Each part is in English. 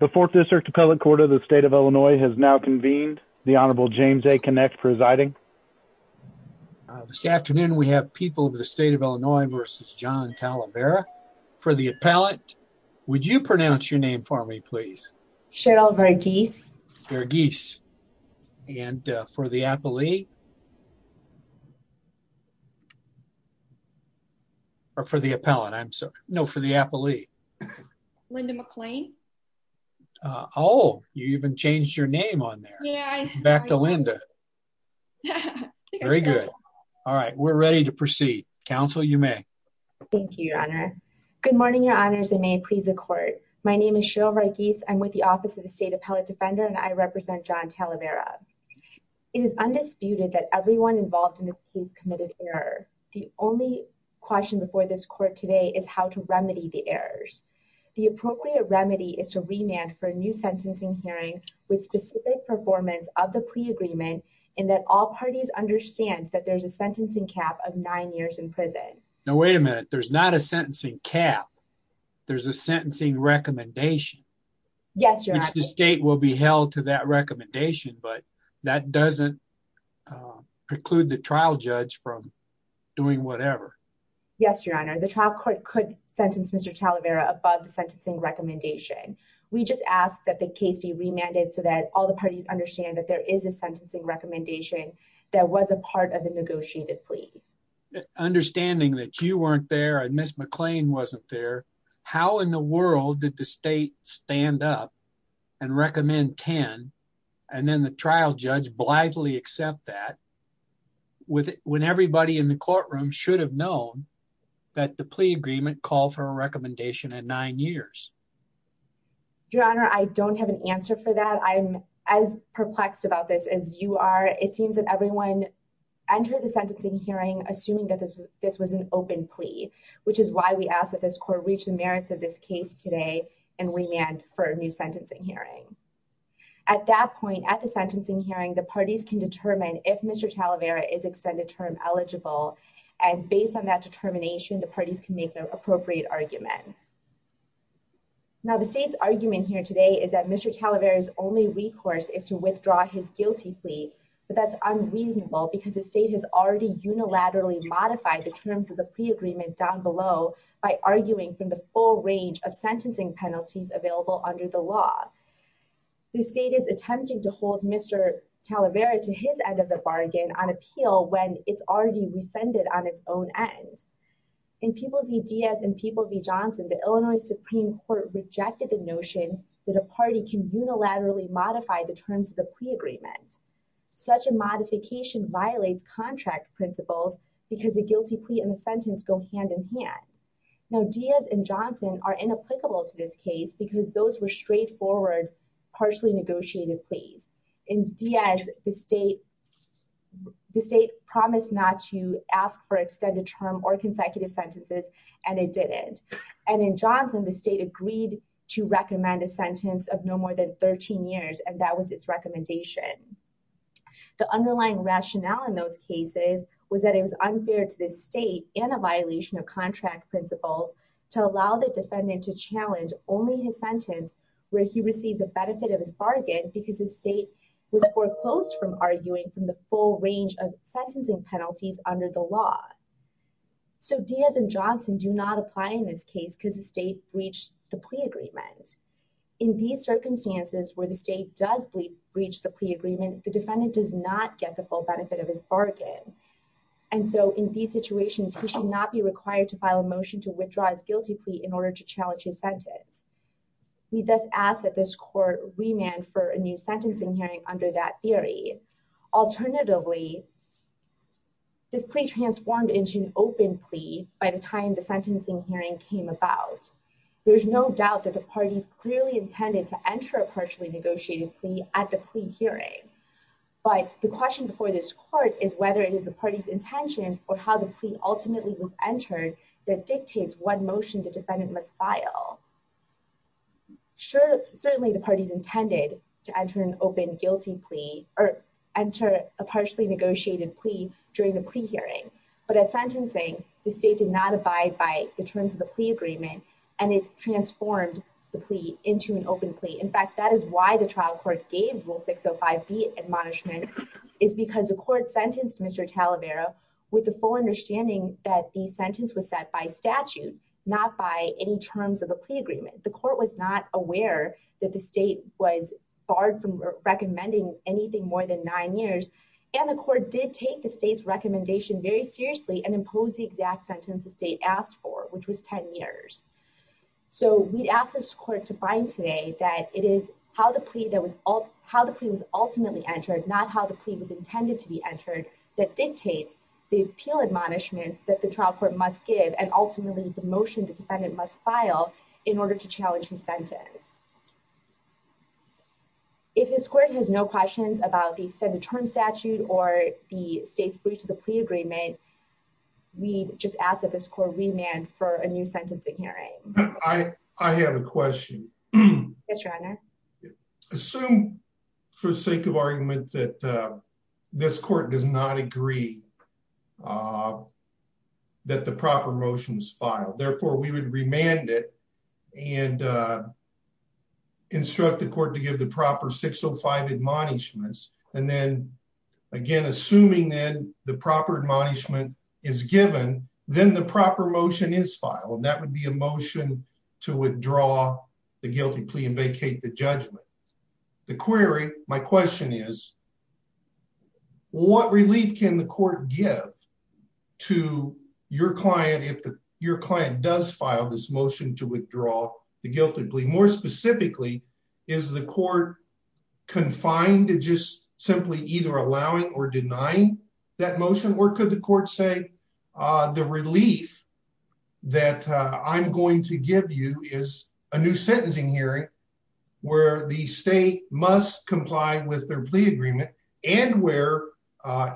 The 4th District Appellate Court of the State of Illinois has now convened. The Honorable James A. Kinect presiding. This afternoon we have People of the State of Illinois v. John Talavera for the appellate. Would you pronounce your name for me please? Cheryl Verghese Verghese. And for the appellee? Or for the appellate, I'm sorry. No, for the appellee. Linda McClain Oh, you even changed your name on there. Back to Linda. Very good. All right, we're ready to proceed. Counsel, you may. Thank you, Your Honor. Good morning, Your Honors, and may it please the Court. My name is Cheryl Verghese. I'm with the Office of the State Appellate Defender, and I represent John Talavera. It is undisputed that everyone involved in this case committed error. The only question before this Court today is how to remedy the errors. The appropriate remedy is to remand for a new sentencing hearing with specific performance of the pre-agreement and that all parties understand that there's a sentencing cap of nine years in prison. Now, wait a minute. There's not a sentencing cap. Yes, Your Honor. The State will be held to that recommendation, but that doesn't preclude the trial judge from doing whatever. Yes, Your Honor. The trial court could sentence Mr. Talavera above the sentencing recommendation. We just ask that the case be remanded so that all the parties understand that there is a sentencing recommendation that was a part of the negotiated plea. Understanding that you weren't there and Ms. McClain wasn't there, how in the world did the State stand up and recommend 10 and then the trial judge blithely accept that when everybody in the courtroom should have known that the plea agreement called for a recommendation at nine years? Your Honor, I don't have an answer for that. I'm as perplexed about this as you are. It seems that everyone entered the sentencing hearing assuming that this was an open plea, which is why we ask that this court reach the merits of this case today and remand for a new sentencing hearing. At that point at the sentencing hearing, the parties can determine if Mr. Talavera is extended term eligible and based on that determination, the parties can make their appropriate arguments. Now the State's argument here today is that Mr. Talavera's only recourse is to withdraw his guilty plea, but that's unreasonable because the State has already unilaterally modified the terms of the plea agreement down below by arguing from the full range of sentencing penalties available under the law. The State is attempting to hold Mr. Talavera to his end of the bargain on appeal when it's already rescinded on its own end. In People v. Diaz and People v. Johnson, the Illinois Supreme Court rejected the notion that a party can unilaterally modify the terms of the plea agreement. Such a modification violates contract principles because a guilty plea and a sentence go hand in hand. Now Diaz and Johnson are inapplicable to this case because those were straightforward, partially negotiated pleas. In Diaz, the State promised not to ask for extended term or consecutive sentences and it didn't. And in Johnson, the State agreed to recommend a sentence of no more than 13 years and that was its recommendation. The underlying rationale in those cases was that it was unfair to the State and a violation of contract principles to allow the defendant to challenge only his sentence where he received the benefit of his bargain because the State was foreclosed from arguing from the full range of sentencing penalties under the law. So Diaz and Johnson do not apply in this case because the State breached the plea agreement. In these circumstances where the State does breach the plea agreement, the defendant does not get the full benefit of his bargain. And so in these situations, he should not be required to file a motion to withdraw his guilty plea in order to challenge his sentence. We thus ask that this court remand for a new sentencing hearing under that theory. Alternatively, this plea transformed into an open plea by the time the sentencing hearing came about. There's no doubt that the parties clearly intended to enter a partially negotiated plea at the plea hearing. But the question before this court is whether it is the party's intentions or how the plea ultimately was entered that dictates what motion the defendant must file. Certainly, the parties intended to enter an open guilty plea or enter a partially negotiated plea during the plea hearing. But at sentencing, the State did not abide by the terms of the plea agreement and it transformed the plea into an open plea. In fact, that is why the trial court gave Rule 605B admonishment is because the court sentenced Mr. Talavera with the full understanding that the sentence was set by statute, not by any terms of a plea agreement. The court was not aware that the State was barred from recommending anything more than nine years. And the court did take the State's recommendation very seriously and impose the exact sentence the State asked for, which was 10 years. So we'd ask this court to find today that it is how the plea was ultimately entered, not how the plea was intended to be entered, that dictates the appeal admonishments that the trial court must give and ultimately the motion the defendant must file in order to challenge his sentence. If this court has no questions about the extended term statute or the State's breach of the plea agreement, we just ask that this court remand for a new sentencing hearing. Yes, Your Honor. I assume for the sake of argument that this court does not agree that the proper motion is filed. Therefore, we would remand it and instruct the court to give the proper 605 admonishments. And then again, assuming that the proper admonishment is given, then the proper motion is filed. And that would be a motion to withdraw the guilty plea and vacate the judgment. The query, my question is, what relief can the court give to your client if your client does file this motion to withdraw the guilty plea? More specifically, is the court confined to just simply either allowing or denying that motion? Or could the court say, the relief that I'm going to give you is a new sentencing hearing where the state must comply with their plea agreement and where,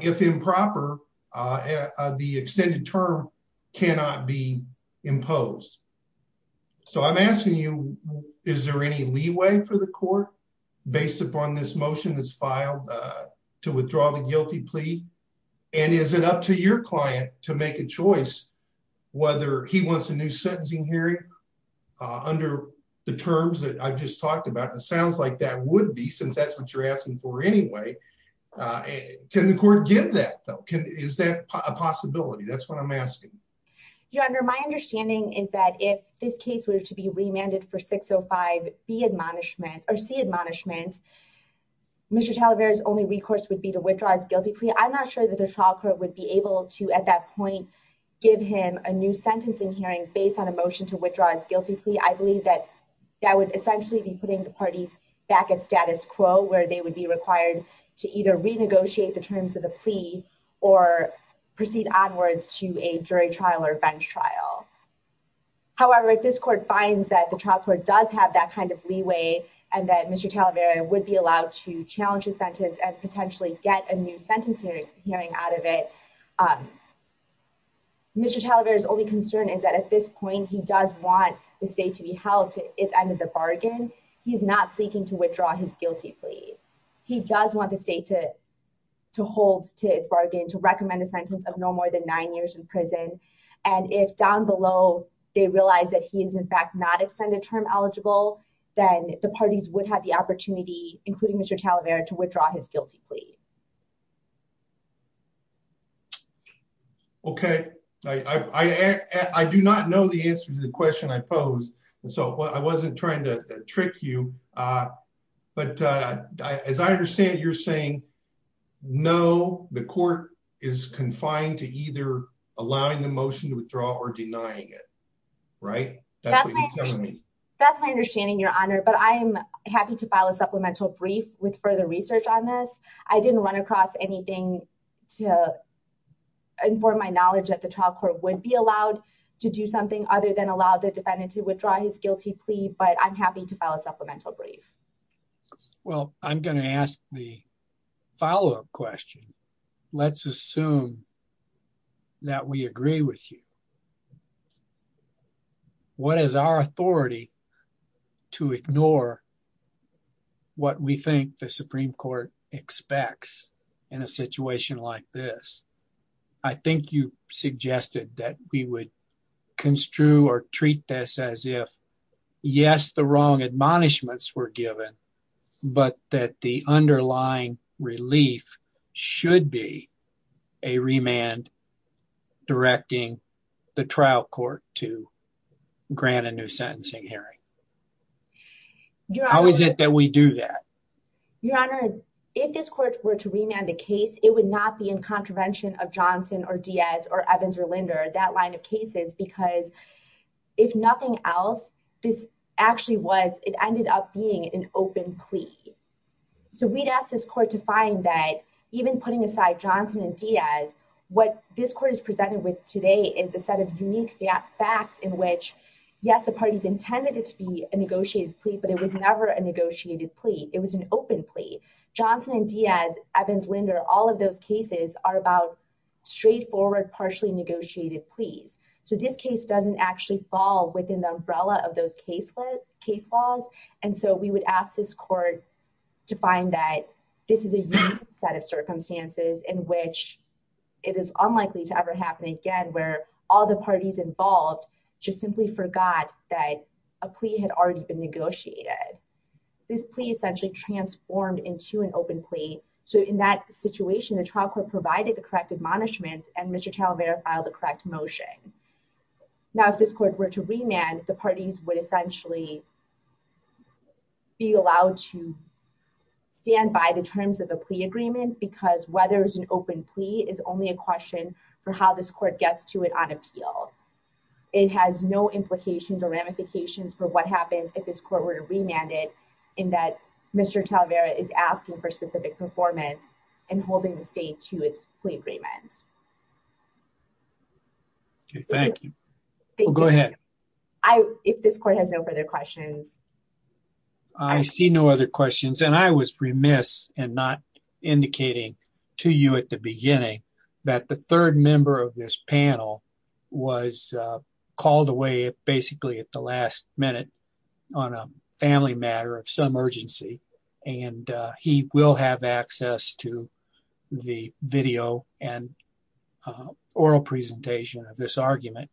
if improper, the extended term cannot be imposed. So I'm asking you, is there any leeway for the court based upon this motion that's filed to withdraw the guilty plea? And is it up to your client to make a choice whether he wants a new sentencing hearing under the terms that I've just talked about? It sounds like that would be, since that's what you're asking for anyway. Can the court give that, though? Is that a possibility? That's what I'm asking. Your Honor, my understanding is that if this case were to be remanded for 605B admonishment or C admonishment, Mr. Talavera's only recourse would be to withdraw his guilty plea. I'm not sure that the trial court would be able to, at that point, give him a new sentencing hearing based on a motion to withdraw his guilty plea. I believe that that would essentially be putting the parties back at status quo, where they would be required to either renegotiate the terms of the plea or proceed onwards to a jury trial or bench trial. However, if this court finds that the trial court does have that kind of leeway and that Mr. Talavera would be allowed to challenge his sentence and potentially get a new sentencing hearing out of it, Mr. Talavera's only concern is that at this point, he does want the state to be held to its end of the bargain. He's not seeking to withdraw his guilty plea. He does want the state to hold to its bargain, to recommend a sentence of no more than nine years in prison. And if down below, they realize that he is, in fact, not extended term eligible, then the parties would have the opportunity, including Mr. Talavera, to withdraw his guilty plea. OK, I do not know the answer to the question I posed, so I wasn't trying to trick you. But as I understand it, you're saying, no, the court is confined to either allowing the motion to withdraw or denying it, right? That's my understanding, Your Honor, but I am happy to file a supplemental brief with further research on this. I didn't run across anything to inform my knowledge that the trial court would be allowed to do something other than allow the defendant to withdraw his guilty plea, but I'm happy to file a supplemental brief. Well, I'm going to ask the follow up question. Let's assume that we agree with you. What is our authority to ignore what we think the Supreme Court expects in a situation like this? I think you suggested that we would construe or treat this as if, yes, the wrong admonishments were given, but that the underlying relief should be a remand directing the trial court to grant a new sentencing hearing. How is it that we do that? Your Honor, if this court were to remand the case, it would not be in contravention of Johnson or Diaz or Evans or Linder, that line of cases, because if nothing else, this actually was, it ended up being an open plea. So we'd ask this court to find that even putting aside Johnson and Diaz, what this court is presented with today is a set of unique facts in which, yes, the parties intended it to be a negotiated plea, but it was never a negotiated plea. It was an open plea. Johnson and Diaz, Evans, Linder, all of those cases are about straightforward, partially negotiated pleas. So this case doesn't actually fall within the umbrella of those case laws, and so we would ask this court to find that this is a unique set of circumstances in which it is unlikely to ever happen again, where all the parties involved just simply forgot that a plea had already been negotiated. This plea essentially transformed into an open plea. So in that situation, the trial court provided the correct admonishments and Mr. Talavera filed the correct motion. Now, if this court were to remand, the parties would essentially be allowed to stand by the terms of the plea agreement, because whether it's an open plea is only a question for how this court gets to it on appeal. It has no implications or ramifications for what happens if this court were to remand it in that Mr. Talavera is asking for specific performance and holding the state to its plea agreement. Thank you. Go ahead. If this court has no further questions. I see no other questions and I was remiss and not indicating to you at the beginning that the third member of this panel was called away basically at the last minute on a family matter of some urgency, and he will have access to the video and oral presentation of this argument.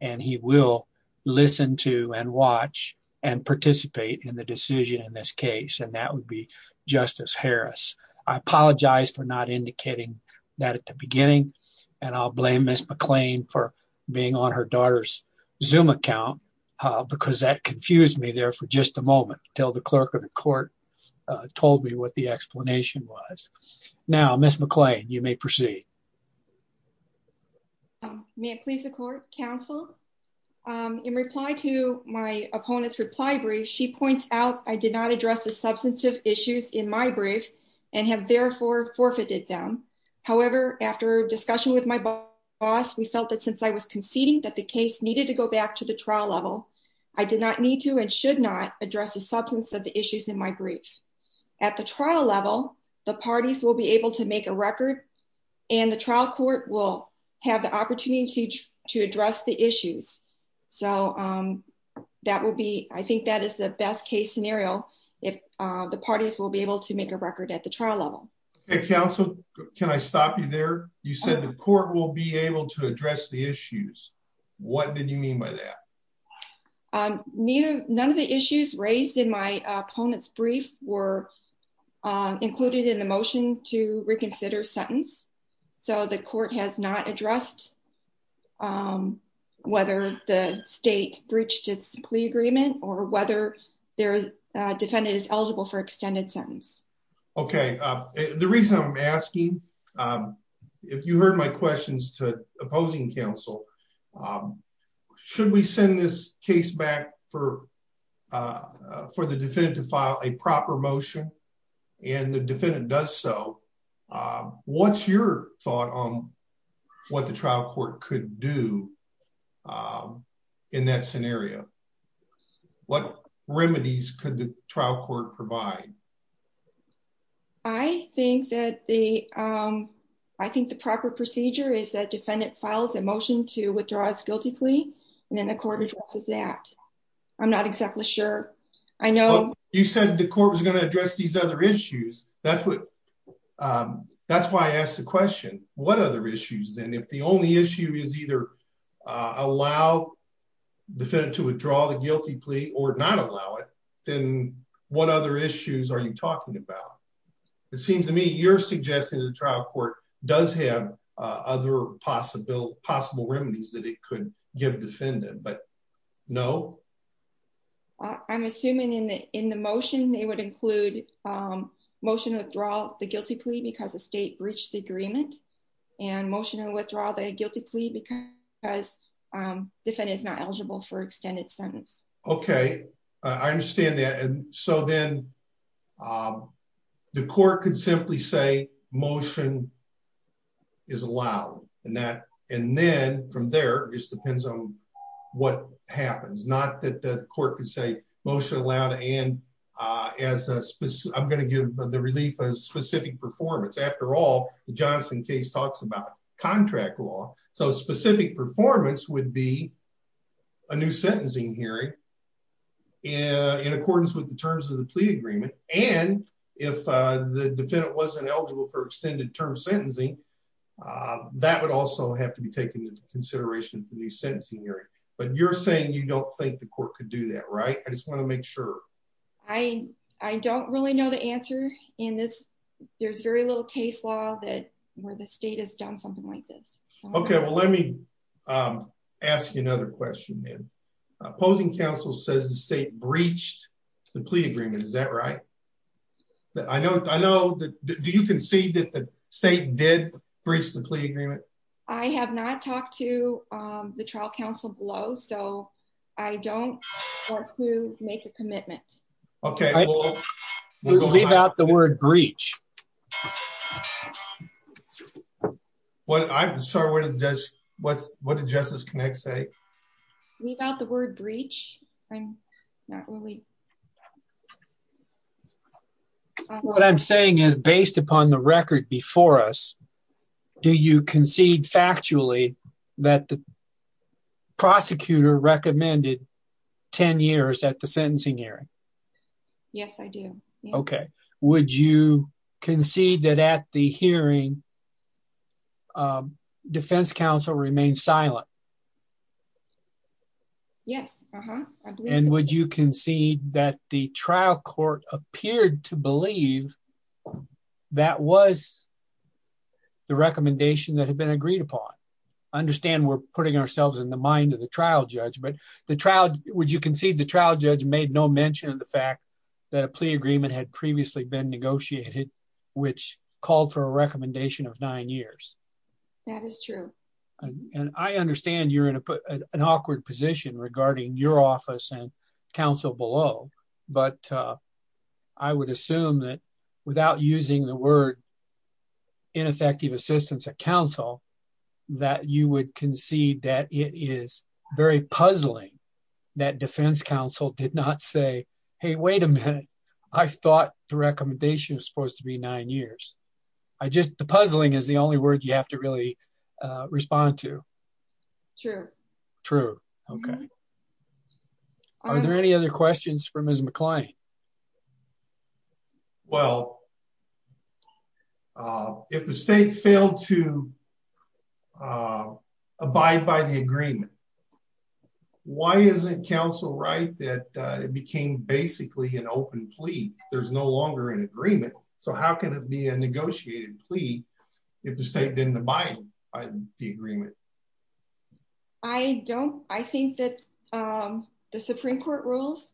And he will listen to and watch and participate in the decision in this case and that would be Justice Harris, I apologize for not indicating that at the beginning, and I'll blame Miss McLean for being on her daughter's zoom account, because that confused me there for just a moment, till the clerk of the court told me what the explanation was. Now Miss McLean, you may proceed. May it please the court counsel in reply to my opponent's reply brief she points out, I did not address the substantive issues in my brief, and have therefore forfeited them. However, after discussion with my boss, we felt that since I was conceding that the case needed to go back to the trial level. I did not need to and should not address the substance of the issues in my brief. At the trial level, the parties will be able to make a record, and the trial court will have the opportunity to address the issues. So, that will be, I think that is the best case scenario. If the parties will be able to make a record at the trial level. Can I stop you there. You said the court will be able to address the issues. What did you mean by that. Neither. None of the issues raised in my opponents brief were included in the motion to reconsider sentence. So the court has not addressed, whether the state breached its plea agreement or whether their defendant is eligible for extended sentence. Okay. The reason I'm asking. If you heard my questions to opposing counsel. Should we send this case back for for the definitive file a proper motion, and the defendant does so. What's your thought on what the trial court could do. In that scenario. What remedies could the trial court provide. I think that the. I think the proper procedure is that defendant files a motion to withdraw his guilty plea, and then the court addresses that I'm not exactly sure. You said the court was going to address these other issues. That's what. That's why I asked the question, what other issues, then if the only issue is either allow the fed to withdraw the guilty plea or not allow it, then what other issues are you talking about. It seems to me you're suggesting the trial court does have other possible possible remedies that it could give defendant but no. I'm assuming in the, in the motion they would include motion withdraw the guilty plea because the state breached the agreement and motion and withdraw the guilty plea because as different is not eligible for extended sentence. Okay, I understand that. And so then the court could simply say motion is allowed, and that, and then from there, just depends on what happens not that the court can say motion allowed and as a specific I'm going to give the relief of specific performance after all, the Johnson case talks about contract law, so specific performance would be a new sentencing hearing in accordance with the terms of the plea agreement, and if the defendant wasn't eligible for extended term sentencing. That would also have to be taken into consideration for the sentencing hearing, but you're saying you don't think the court could do that right I just want to make sure. I, I don't really know the answer in this. There's very little case law that where the state has done something like this. Okay, well let me ask you another question man opposing counsel says the state breached the plea agreement is that right. I know, I know that you can see that the state did recently agreement. I have not talked to the trial counsel below so I don't want to make a commitment. Okay. The word breach. What I'm sorry what does what's what did justice connect say we got the word breach. I'm not really what I'm saying is based upon the record before us. Do you concede factually that the prosecutor recommended 10 years at the sentencing hearing. Yes, I do. Okay. Would you concede that at the hearing. Defense counsel remain silent. Yes. And would you concede that the trial court appeared to believe that was the recommendation that had been agreed upon. Understand we're putting ourselves in the mind of the trial judge but the trial, would you concede the trial judge made no mention of the fact that a plea agreement had previously been negotiated, which called for a recommendation of nine years. That is true. And I understand you're in an awkward position regarding your office and counsel below, but I would assume that without using the word ineffective assistance at counsel, that you would concede that it is very puzzling that defense counsel did not say, Hey, wait a minute. I thought the recommendation is supposed to be nine years. I just the puzzling is the only word you have to really respond to. Sure. True. Okay. Are there any other questions from his McLean. Well, if the state failed to abide by the agreement. Why isn't counsel right that became basically an open plea, there's no longer an agreement. So how can it be a negotiated plea. If the state didn't abide by the agreement. I don't, I think that the Supreme Court rules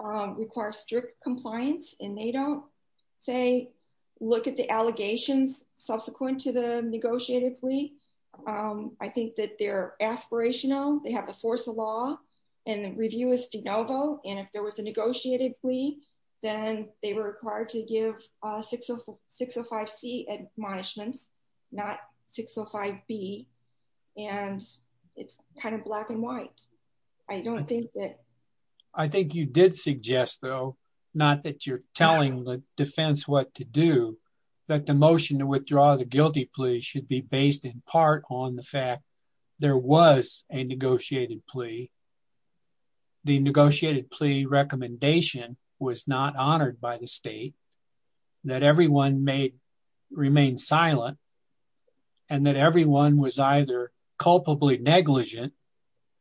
require strict compliance, and they don't say, look at the allegations subsequent to the negotiated plea. I think that they're aspirational, they have the force of law, and the review is de novo, and if there was a negotiated plea, then they were required to give a 605 C admonishments, not 605 B. And it's kind of black and white. I don't think that. I think you did suggest though, not that you're telling the defense what to do that the motion to withdraw the guilty plea should be based in part on the fact there was a negotiated plea. The negotiated plea recommendation was not honored by the state that everyone may remain silent. And that everyone was either culpably negligent,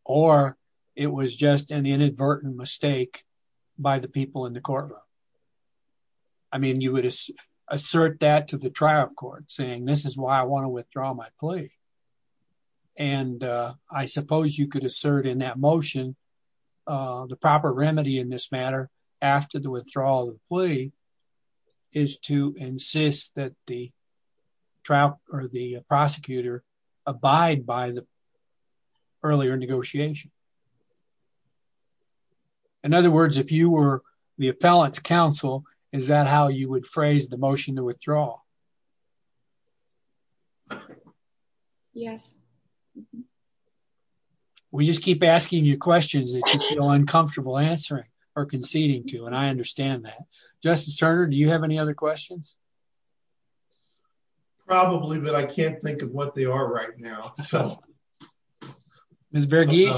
or it was just an inadvertent mistake by the people in the courtroom. I mean you would assert that to the trial court saying this is why I want to withdraw my plea. And I suppose you could assert in that motion. The proper remedy in this matter. After the withdrawal of the plea is to insist that the trial, or the prosecutor, abide by the earlier negotiation. In other words, if you were the appellant's counsel, is that how you would phrase the motion to withdraw. Yes. We just keep asking you questions that you feel uncomfortable answering or conceding to and I understand that. Justice Turner, do you have any other questions. Probably, but I can't think of what they are right now. Ms. The breach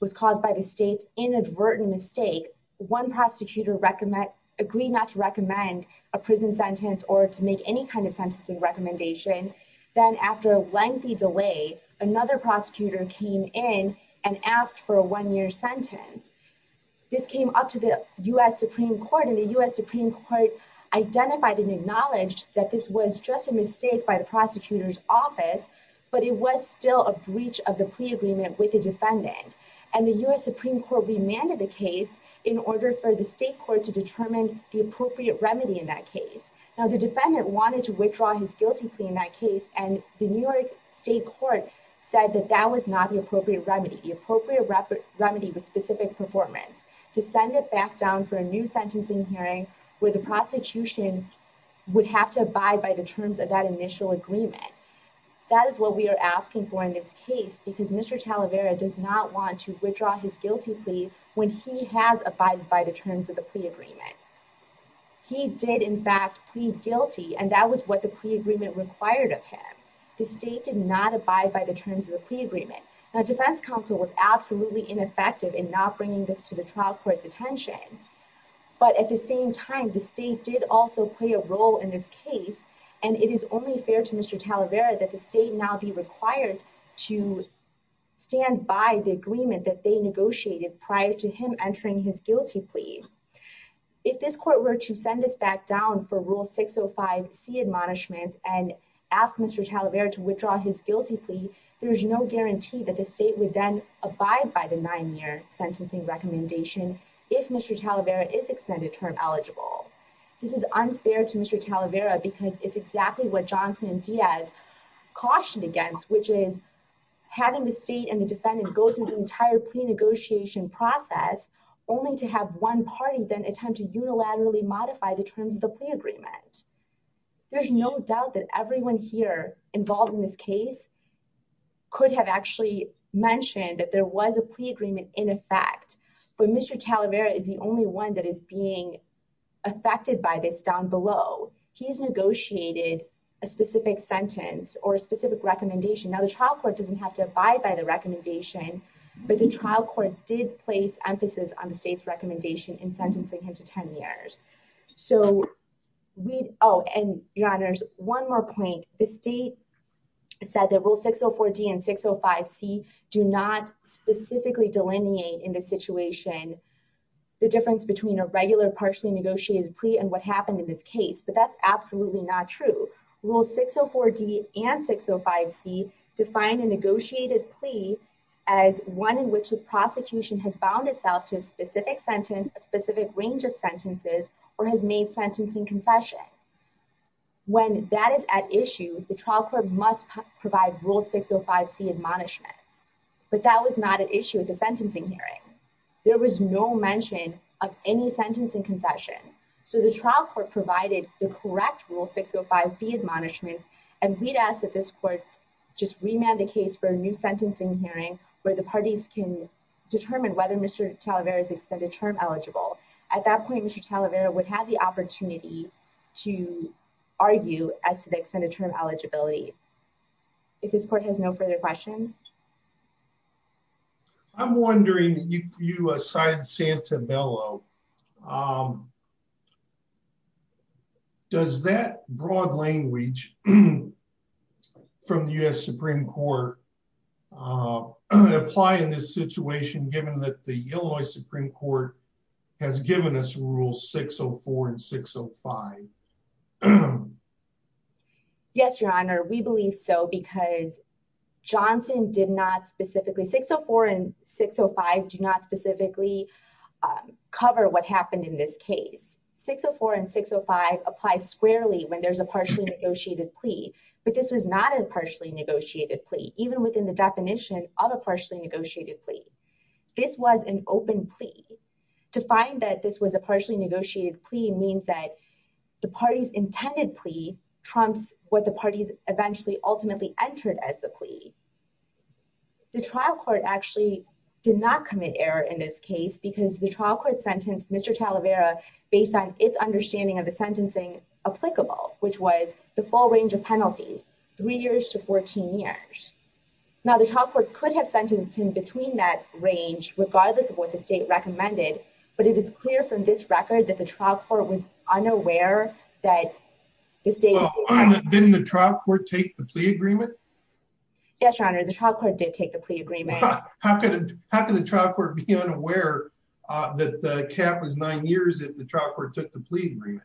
was caused by the state's inadvertent mistake. One prosecutor agree not to recommend a prison sentence or to make any kind of sentencing recommendation. Then after a lengthy delay, another prosecutor came in and asked for a one year sentence. This came up to the U.S. Supreme Court and the U.S. Supreme Court identified and acknowledged that this was just a mistake by the prosecutor's office, but it was still a breach of the plea agreement with the defendant. And the U.S. Supreme Court remanded the case in order for the state court to determine the appropriate remedy in that case. Now the defendant wanted to withdraw his guilty plea in that case and the New York State Court said that that was not the appropriate remedy. The appropriate remedy was specific performance to send it back down for a new sentencing hearing where the prosecution would have to abide by the terms of that initial agreement. That is what we are asking for in this case because Mr. Talavera does not want to withdraw his guilty plea when he has abided by the terms of the plea agreement. He did in fact plead guilty and that was what the plea agreement required of him. The state did not abide by the terms of the plea agreement. Now defense counsel was absolutely ineffective in not bringing this to the trial court's attention. But at the same time, the state did also play a role in this case and it is only fair to Mr. Talavera that the state now be required to stand by the agreement that they negotiated prior to him entering his guilty plea. If this court were to send this back down for Rule 605C admonishments and ask Mr. Talavera to withdraw his guilty plea, there is no guarantee that the state would then abide by the nine-year sentencing recommendation if Mr. Talavera is extended term eligible. This is unfair to Mr. Talavera because it's exactly what Johnson and Diaz cautioned against, which is having the state and the defendant go through the entire plea negotiation process only to have one party then attempt to unilaterally modify the terms of the plea agreement. There's no doubt that everyone here involved in this case could have actually mentioned that there was a plea agreement in effect, but Mr. Talavera is the only one that is being affected by this down below. He's negotiated a specific sentence or a specific recommendation. Now the trial court doesn't have to abide by the recommendation, but the trial court did place emphasis on the state's recommendation in sentencing him to 10 years. Your Honor, one more point. The state said that Rule 604D and 605C do not specifically delineate in this situation the difference between a regular partially negotiated plea and what happened in this case, but that's absolutely not true. Rule 604D and 605C define a negotiated plea as one in which the prosecution has bound itself to a specific sentence, a specific range of sentences, or has made sentencing concessions. When that is at issue, the trial court must provide Rule 605C admonishments, but that was not at issue at the sentencing hearing. There was no mention of any sentencing concessions, so the trial court provided the correct Rule 605B admonishments, and we'd ask that this court just remand the case for a new sentencing hearing where the parties can determine whether Mr. Talavera is extended term eligible. At that point, Mr. Talavera would have the opportunity to argue as to the extended term eligibility. If this court has no further questions. I'm wondering, you cited Santabello, does that broad language from the U.S. Supreme Court apply in this situation given that the Illinois Supreme Court has given us Rule 604 and 605? Yes, Your Honor, we believe so because Johnson did not specifically, 604 and 605 do not specifically cover what happened in this case. 604 and 605 apply squarely when there's a partially negotiated plea, but this was not a partially negotiated plea, even within the definition of a partially negotiated plea. This was an open plea. To find that this was a partially negotiated plea means that the parties intended plea trumps what the parties eventually ultimately entered as the plea. The trial court actually did not commit error in this case because the trial court sentenced Mr. Talavera based on its understanding of the sentencing applicable, which was the full range of penalties, three years to 14 years. Now, the trial court could have sentenced him between that range, regardless of what the state recommended, but it is clear from this record that the trial court was unaware that the state. Didn't the trial court take the plea agreement? Yes, Your Honor, the trial court did take the plea agreement. How could the trial court be unaware that the cap was nine years if the trial court took the plea agreement?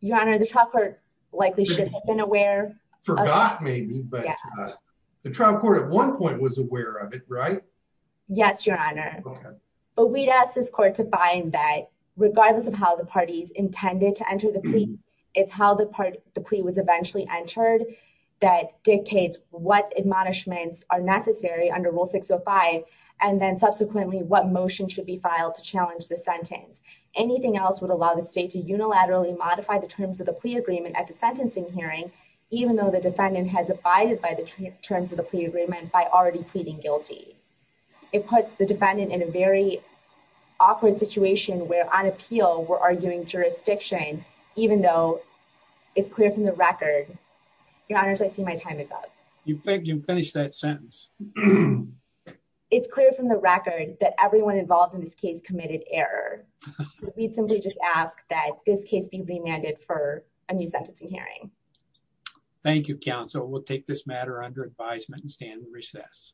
Your Honor, the trial court likely should have been aware. Forgot maybe, but the trial court at one point was aware of it, right? Yes, Your Honor, but we'd ask this court to find that regardless of how the parties intended to enter the plea, it's how the plea was eventually entered that dictates what admonishments are necessary under Rule 605. And then subsequently, what motion should be filed to challenge the sentence? Anything else would allow the state to unilaterally modify the terms of the plea agreement at the sentencing hearing, even though the defendant has abided by the terms of the plea agreement by already pleading guilty. It puts the defendant in a very awkward situation where on appeal, we're arguing jurisdiction, even though it's clear from the record. Your Honor, I see my time is up. You finished that sentence. It's clear from the record that everyone involved in this case committed error. So we'd simply just ask that this case be remanded for a new sentencing hearing. Thank you, counsel. We'll take this matter under advisement and stand in recess.